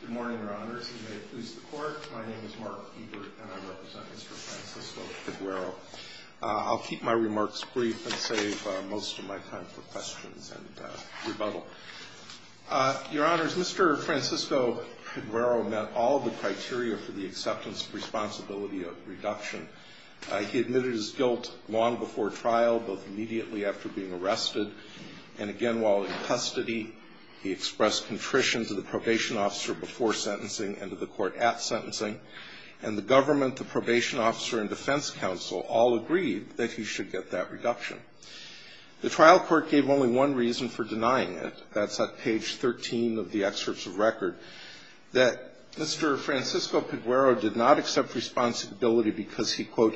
Good morning, Your Honors, and may it please the Court, my name is Mark Ebert and I represent Mr. Francisco-Peguero. I'll keep my remarks brief and save most of my time for questions and rebuttal. Your Honors, Mr. Francisco-Peguero met all the criteria for the acceptance of responsibility of reduction. He admitted his guilt long before trial, both immediately after being arrested and again while in custody. He expressed contrition to the probation officer before sentencing and to the court at sentencing, and the government, the probation officer, and defense counsel all agreed that he should get that reduction. The trial court gave only one reason for denying it, that's at page 13 of the excerpts of record, that Mr. Francisco-Peguero did not accept responsibility because he, quote,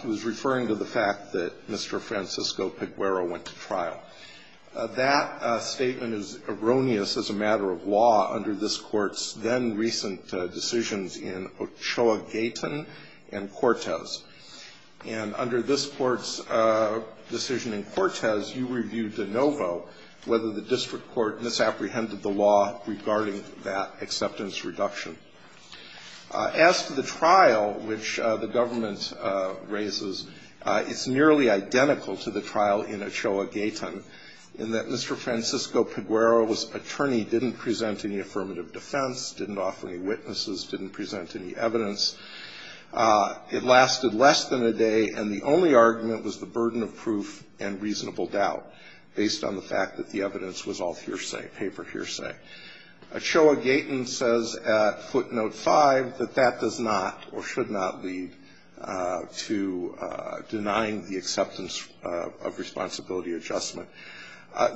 He was referring to the fact that Mr. Francisco-Peguero went to trial. That statement is erroneous as a matter of law under this Court's then-recent decisions in Ochoa-Gayton and Cortez. And under this Court's decision in Cortez, you reviewed de novo whether the district court misapprehended the law regarding that acceptance reduction. As to the trial which the government raises, it's nearly identical to the trial in Ochoa-Gayton, in that Mr. Francisco-Peguero's attorney didn't present any affirmative defense, didn't offer any witnesses, didn't present any evidence. It lasted less than a day, and the only argument was the burden of proof and reasonable doubt, based on the fact that the evidence was all hearsay, paper hearsay. Ochoa-Gayton says at footnote 5 that that does not or should not lead to denying the acceptance of responsibility adjustment.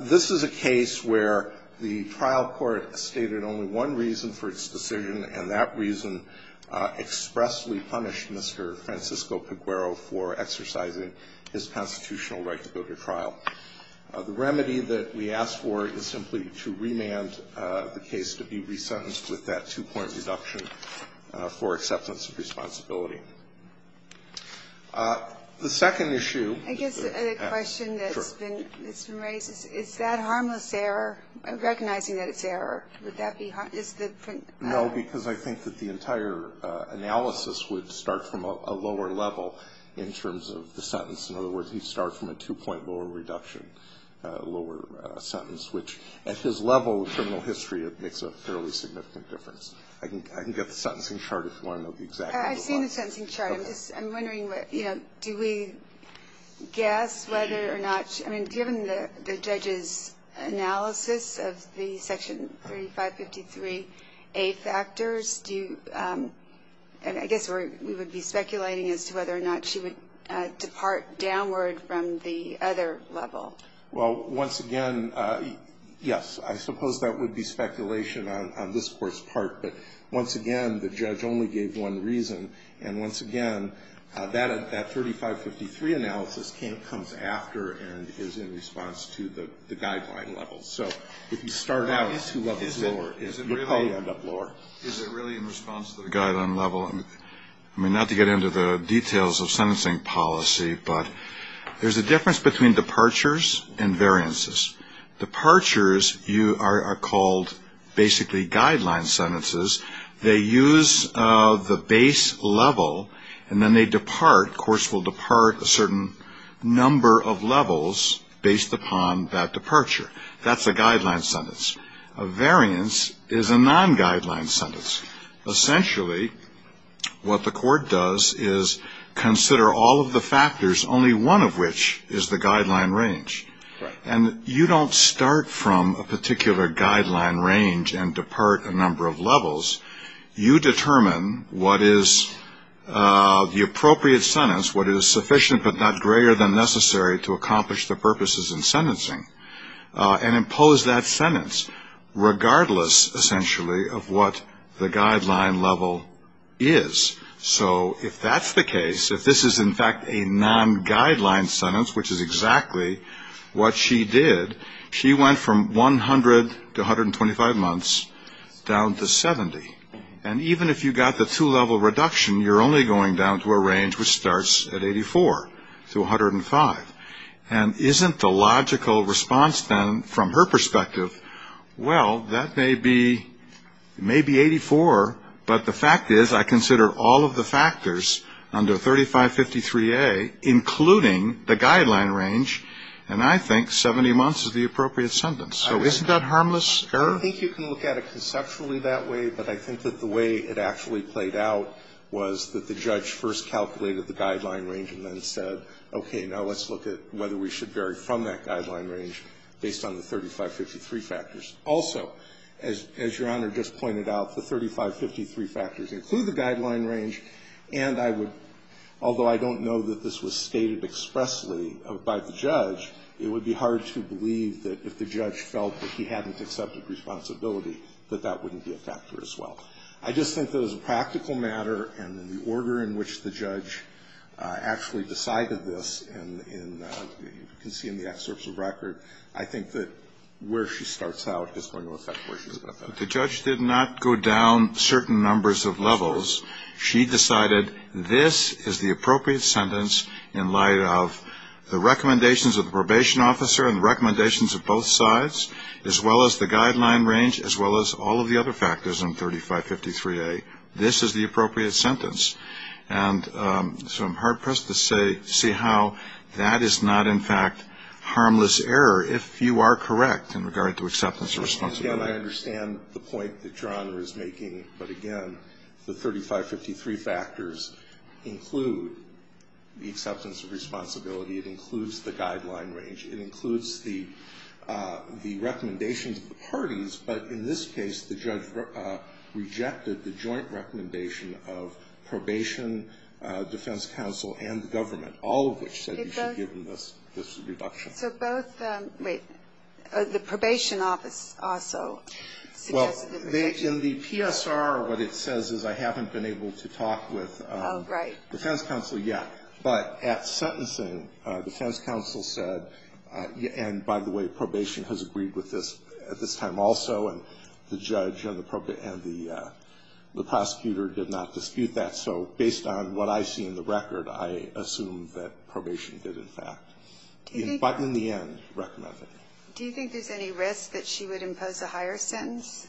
This is a case where the trial court stated only one reason for its decision, and that reason expressly punished Mr. Francisco-Peguero for exercising his constitutional right to go to trial. The remedy that we ask for is simply to remand the case to be resentenced with that two-point reduction for acceptance of responsibility. The second issue that's been raised, is that harmless error? Recognizing that it's error, would that be harmful? No, because I think that the entire analysis would start from a lower level in terms of the sentence. In other words, he'd start from a two-point lower reduction, lower sentence, which at his level of criminal history, it makes a fairly significant difference. I can get the sentencing chart if you want to know the exact number. I've seen the sentencing chart. I'm just wondering, you know, do we guess whether or not, I mean, given the judge's analysis of the Section 3553A factors, do you, and I guess we would be speculating as to whether or not she would depart downward from the other level? Well, once again, yes, I suppose that would be speculation on this Court's part. But once again, the judge only gave one reason. And once again, that 3553 analysis comes after and is in response to the guideline level. So if you start out two levels lower, you'll probably end up lower. Is it really in response to the guideline level? I mean, not to get into the details of sentencing policy, but there's a difference between departures and variances. Departures are called basically guideline sentences. They use the base level, and then they depart. Courts will depart a certain number of levels based upon that departure. That's a guideline sentence. A variance is a non-guideline sentence. Essentially, what the court does is consider all of the factors, only one of which is the guideline range. And you don't start from a particular guideline range and depart a number of levels. You determine what is the appropriate sentence, what is sufficient but not greater than necessary to accomplish the purposes in sentencing, and impose that sentence regardless, essentially, of what the guideline level is. So if that's the case, if this is, in fact, a non-guideline sentence, which is exactly what she did, she went from 100 to 125 months down to 70. And even if you got the two-level reduction, you're only going down to a range which starts at 84 to 105. And isn't the logical response, then, from her perspective, well, that may be 84, but the fact is, I consider all of the factors under 3553A, including the guideline range, and I think 70 months is the appropriate sentence. So isn't that harmless error? I don't think you can look at it conceptually that way, but I think that the way it actually played out was that the judge first looked at whether we should vary from that guideline range based on the 3553 factors. Also, as Your Honor just pointed out, the 3553 factors include the guideline range, and I would, although I don't know that this was stated expressly by the judge, it would be hard to believe that if the judge felt that he hadn't accepted responsibility, that that wouldn't be a factor as well. I just think that as a practical matter, and in the order in which the judge actually decided this, and you can see in the excerpts of record, I think that where she starts out is going to affect where she's going to end up. The judge did not go down certain numbers of levels. She decided this is the appropriate sentence in light of the recommendations of the probation officer and the recommendations of both sides, as well as the guideline range, as well as all of the other factors under 3553A. This is the appropriate sentence. And so I'm hard-pressed to see how that is not, in fact, harmless error if you are correct in regard to acceptance of responsibility. Again, I understand the point that Your Honor is making, but again, the 3553 factors include the acceptance of responsibility. It includes the guideline range. It includes the recommendations of the parties, but in this case, the judge rejected the joint recommendation of probation, defense counsel, and the government, all of which said you should give them this reduction. So both the probation office also suggested the reduction. Well, in the PSR, what it says is I haven't been able to talk with defense counsel yet. But at sentencing, defense counsel said, and by the way, the judge and the prosecutor did not dispute that. So based on what I see in the record, I assume that probation did, in fact. But in the end, recommended it. Do you think there's any risk that she would impose a higher sentence?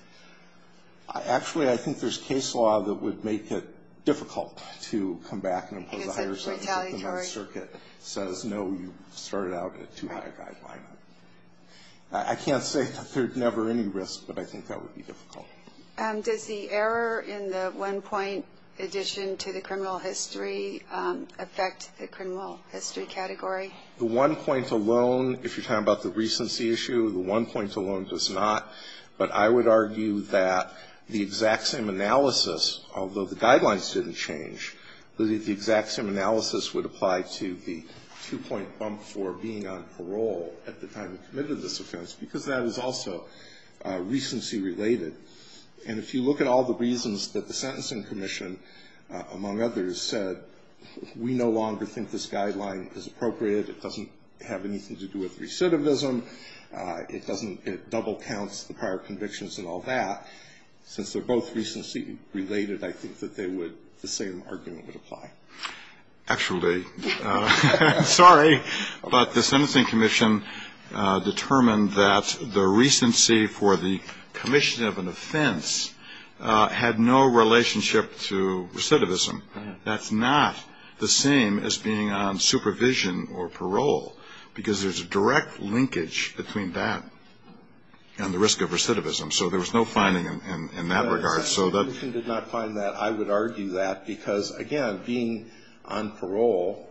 Actually, I think there's case law that would make it difficult to come back and impose a higher sentence. Because retaliatory. If the circuit says, no, you started out at too high a guideline. Right. I can't say that there's never any risk, but I think that would be difficult. Does the error in the one-point addition to the criminal history affect the criminal history category? The one-point alone, if you're talking about the recency issue, the one-point alone does not. But I would argue that the exact same analysis, although the guidelines didn't change, the exact same analysis would apply to the two-point bump for being on parole at the time you committed this offense, because that is also recency related. And if you look at all the reasons that the Sentencing Commission, among others, said we no longer think this guideline is appropriate, it doesn't have anything to do with recidivism, it doesn't double counts the prior convictions and all that. Since they're both recency related, I think that they would, the same argument would apply. Actually, sorry, but the Sentencing Commission determined that the recency for the commission of an offense had no relationship to recidivism. That's not the same as being on supervision or parole, because there's a direct linkage between that and the risk of recidivism. So there was no finding in that regard. The Sentencing Commission did not find that. I would argue that, because, again, being on parole,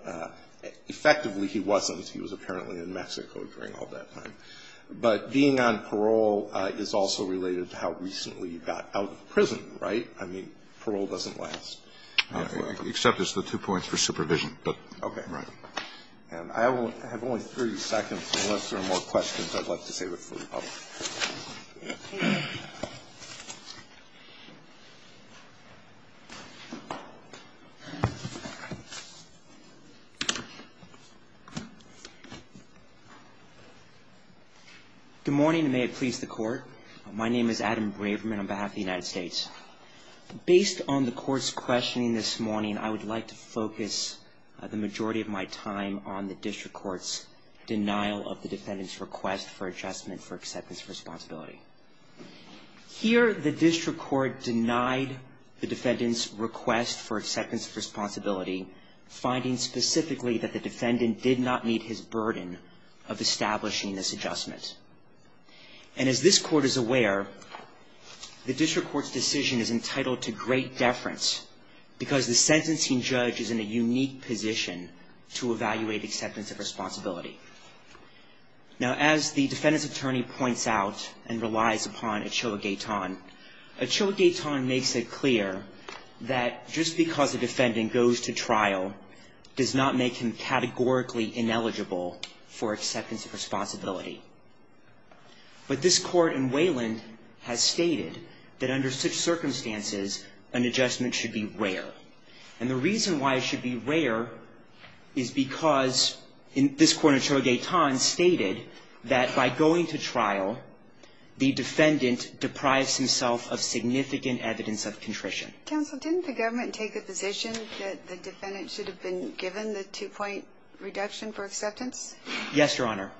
effectively he wasn't. He was apparently in Mexico during all that time. But being on parole is also related to how recently you got out of prison, right? I mean, parole doesn't last. Except it's the two points for supervision. Okay. Right. And I have only 30 seconds, unless there are more questions I'd like to save it for the public. Okay. Good morning, and may it please the Court. My name is Adam Braverman on behalf of the United States. Based on the Court's questioning this morning, I would like to focus the majority of my time on the district court's denial of the defendant's request for adjustment for acceptance of responsibility. Here, the district court denied the defendant's request for acceptance of responsibility, finding specifically that the defendant did not meet his burden of establishing this adjustment. And as this Court is aware, the district court's decision is entitled to great deference, because the sentencing judge is in a unique position to evaluate acceptance of responsibility. Now, as the defendant's attorney points out and relies upon Achille Gaitan, Achille Gaitan makes it clear that just because a defendant goes to trial does not make him categorically ineligible for acceptance of responsibility. But this Court in Wayland has stated that under such circumstances, an adjustment should be rare. And the reason why it should be rare is because this Court in Achille Gaitan stated that by going to trial, the defendant deprives himself of significant evidence of contrition. Counsel, didn't the government take the position that the defendant should have been given the two-point reduction for acceptance? Yes, Your Honor.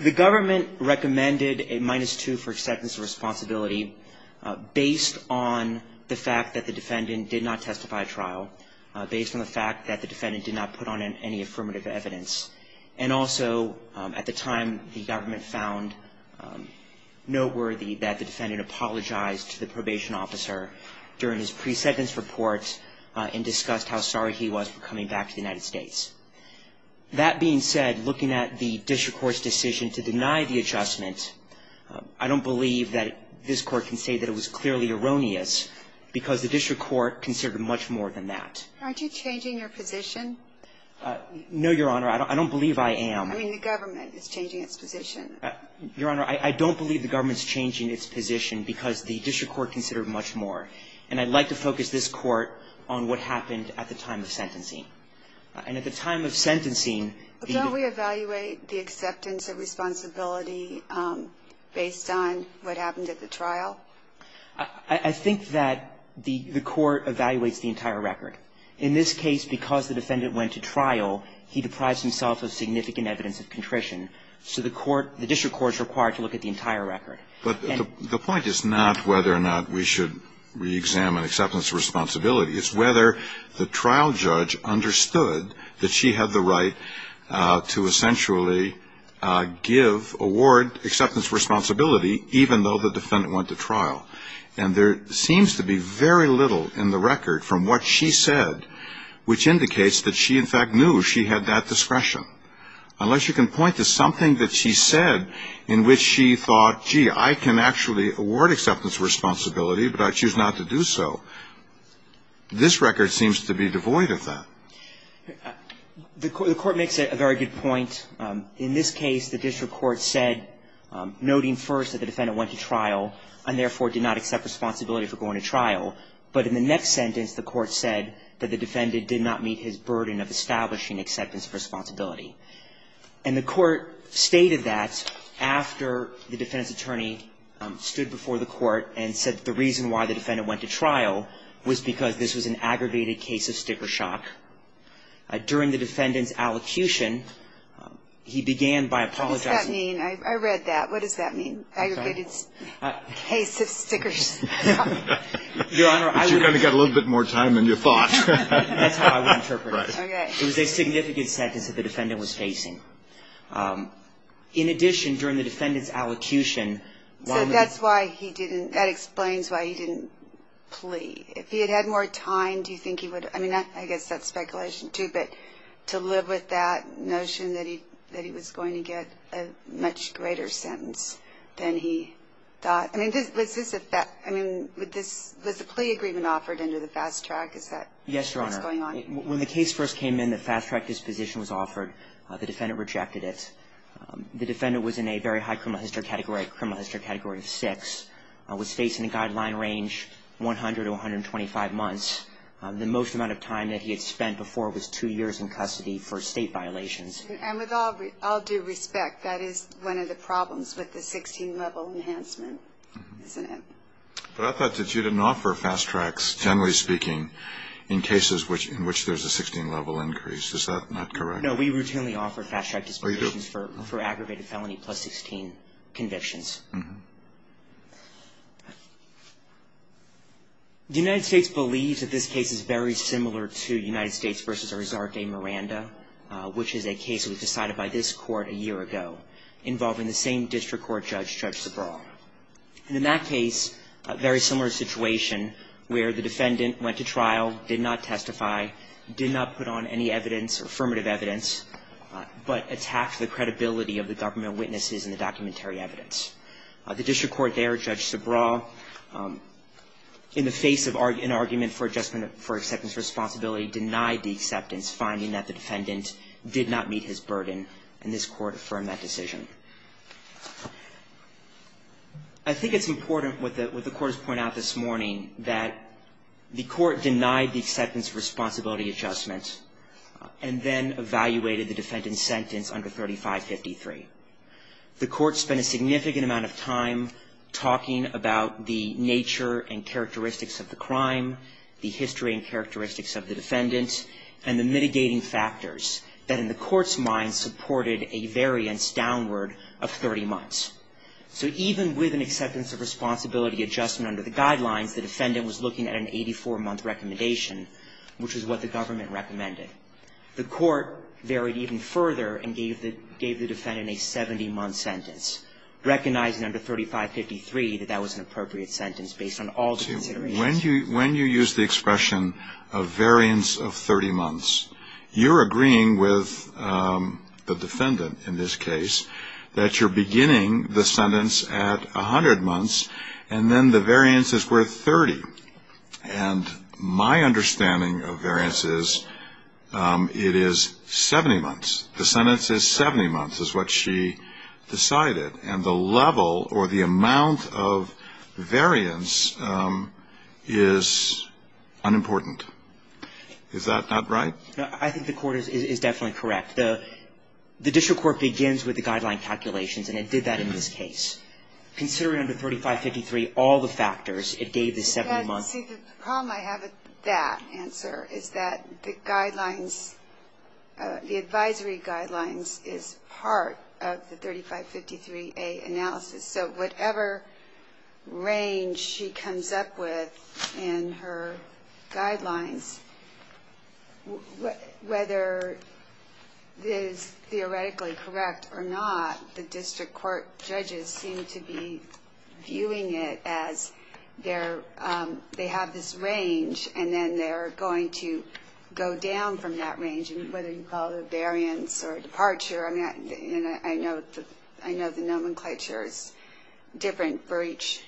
The government recommended a minus two for acceptance of responsibility based on the fact that the defendant did not testify at trial, based on the fact that the defendant did not put on any affirmative evidence. And also, at the time, the government found noteworthy that the defendant apologized to the probation officer during his pre-sentence report and discussed how sorry he was for coming back to the United States. That being said, looking at the district court's decision to deny the adjustment, I don't believe that this Court can say that it was clearly erroneous because the district court considered much more than that. Aren't you changing your position? No, Your Honor. I don't believe I am. I mean, the government is changing its position. Your Honor, I don't believe the government is changing its position because the district court considered much more. And I'd like to focus this Court on what happened at the time of sentencing. And at the time of sentencing, the ---- But don't we evaluate the acceptance of responsibility based on what happened at the trial? I think that the court evaluates the entire record. In this case, because the defendant went to trial, he deprives himself of significant evidence of contrition. So the court, the district court is required to look at the entire record. But the point is not whether or not we should reexamine acceptance of responsibility. It's whether the trial judge understood that she had the right to essentially give, award acceptance of responsibility even though the defendant went to trial. And there seems to be very little in the record from what she said, which indicates that she, in fact, knew she had that discretion. Unless you can point to something that she said in which she thought, gee, I can actually award acceptance of responsibility, but I choose not to do so. This record seems to be devoid of that. The court makes a very good point. In this case, the district court said, noting first that the defendant went to trial and therefore did not accept responsibility for going to trial. But in the next sentence, the court said that the defendant did not meet his burden of establishing acceptance of responsibility. And the court stated that after the defendant's attorney stood before the court and said that the reason why the defendant went to trial was because this was an aggravated case of sticker shock. During the defendant's allocution, he began by apologizing. What does that mean? I read that. What does that mean? Aggravated case of sticker shock. Your Honor, I would. But you kind of got a little bit more time than you thought. That's how I would interpret it. Right. Okay. It was a significant sentence that the defendant was facing. In addition, during the defendant's allocution. So that's why he didn't. That explains why he didn't plea. If he had had more time, do you think he would have. I mean, I guess that's speculation, too. But to live with that notion that he was going to get a much greater sentence than he thought. I mean, was this a plea agreement offered under the fast track? Is that what's going on? Yes, Your Honor. When the case first came in, the fast track disposition was offered. The defendant rejected it. The defendant was in a very high criminal history category, criminal history category of six, was facing a guideline range 100 to 125 months. The most amount of time that he had spent before was two years in custody for state violations. And with all due respect, that is one of the problems with the 16-level enhancement, isn't it? But I thought that you didn't offer fast tracks, generally speaking, in cases in which there's a 16-level increase. Is that not correct? No, we routinely offer fast track dispositions for aggravated felony plus 16 convictions. Mm-hmm. The United States believes that this case is very similar to United States v. Arzar de Miranda, which is a case that was decided by this court a year ago involving the same district court judge, Judge Sobral. And in that case, a very similar situation where the defendant went to trial, did not testify, did not put on any evidence, affirmative evidence, but attacked the credibility of the government witnesses and the documentary evidence. The district court there, Judge Sobral, in the face of an argument for adjustment for acceptance responsibility, denied the acceptance, finding that the defendant did not meet his burden, and this court affirmed that decision. I think it's important, what the court has pointed out this morning, that the court denied the acceptance of responsibility adjustment and then evaluated the defendant's sentence under 3553. The court spent a significant amount of time talking about the nature and characteristics of the crime, the history and characteristics of the defendant, and the mitigating factors that in the court's mind supported a variance downward of 30 months. So even with an acceptance of responsibility adjustment under the guidelines, the defendant was looking at an 84-month recommendation, which is what the government recommended. The court varied even further and gave the defendant a 70-month sentence, recognizing under 3553 that that was an appropriate sentence based on all the considerations. When you use the expression of variance of 30 months, you're agreeing with the defendant in this case that you're beginning the sentence at 100 months and then the variance is worth 30. And my understanding of variance is it is 70 months. The sentence is 70 months is what she decided. And the level or the amount of variance is unimportant. Is that not right? I think the court is definitely correct. The district court begins with the guideline calculations, and it did that in this case. Considering under 3553 all the factors, it gave the 70 months. See, the problem I have with that answer is that the guidelines, the advisory guidelines, is part of the 3553A analysis. So whatever range she comes up with in her guidelines, whether it is theoretically correct or not, the district court judges seem to be viewing it as they have this range and then they're going to go down from that range. And whether you call it a variance or a departure, I know the nomenclature is different for each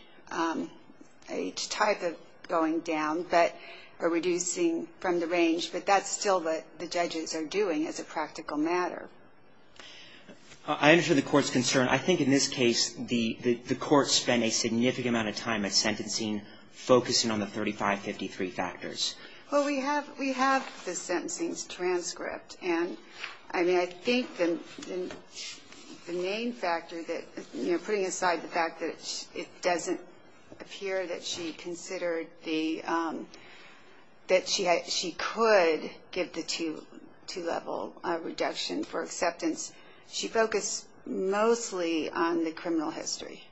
type of going down, but are reducing from the range. But that's still what the judges are doing as a practical matter. I understand the court's concern. I think in this case the court spent a significant amount of time at sentencing focusing on the 3553 factors. Well, we have the sentencing's transcript. And I mean, I think the main factor that, you know, a fear that she considered that she could give the two-level reduction for acceptance, she focused mostly on the criminal history,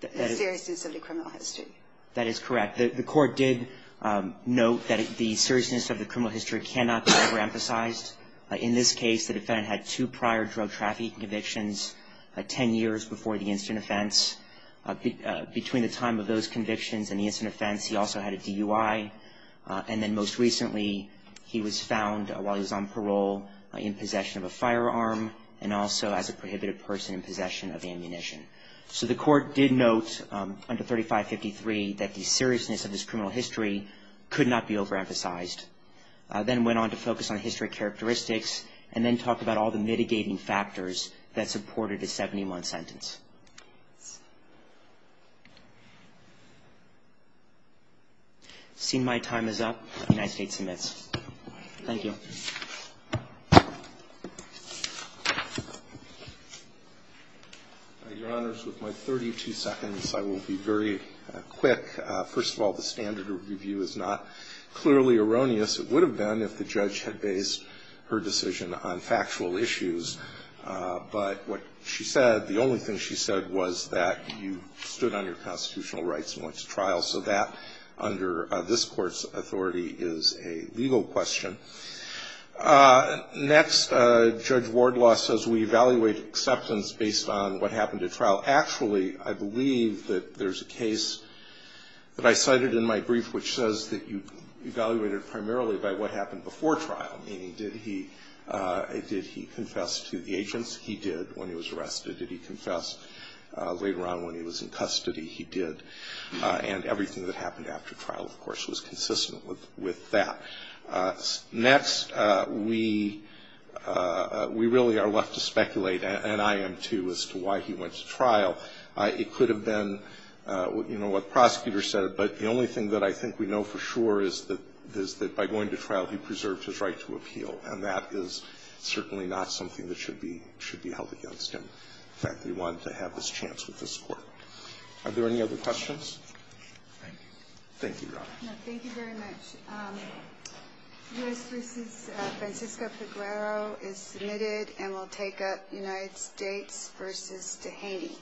the seriousness of the criminal history. That is correct. The court did note that the seriousness of the criminal history cannot be overemphasized. In this case, the defendant had two prior drug trafficking convictions, 10 years before the instant offense. Between the time of those convictions and the instant offense, he also had a DUI. And then most recently he was found, while he was on parole, in possession of a firearm and also as a prohibited person in possession of ammunition. So the court did note under 3553 that the seriousness of this criminal history could not be overemphasized. Then went on to focus on history characteristics and then talk about all the mitigating factors that supported a 70-month sentence. Seeing my time is up, the United States submits. Thank you. Your Honors, with my 32 seconds, I will be very quick. First of all, the standard review is not clearly erroneous. It would have been if the judge had based her decision on factual issues. But what she said, the only thing she said was that you stood on your constitutional rights and went to trial. So that, under this Court's authority, is a legal question. Next, Judge Wardlaw says we evaluate acceptance based on what happened at trial. Well, actually, I believe that there's a case that I cited in my brief, which says that you evaluated primarily by what happened before trial. Meaning, did he confess to the agents? He did when he was arrested. Did he confess later on when he was in custody? He did. And everything that happened after trial, of course, was consistent with that. Next, we really are left to speculate, and I am too, as to why he went to trial. It could have been, you know, what the prosecutor said, but the only thing that I think we know for sure is that by going to trial, he preserved his right to appeal. And that is certainly not something that should be held against him, the fact that he wanted to have this chance with this Court. Thank you, Your Honor. Thank you very much. U.S. v. Francisco Peguero is submitted and will take up United States v. Dehaney.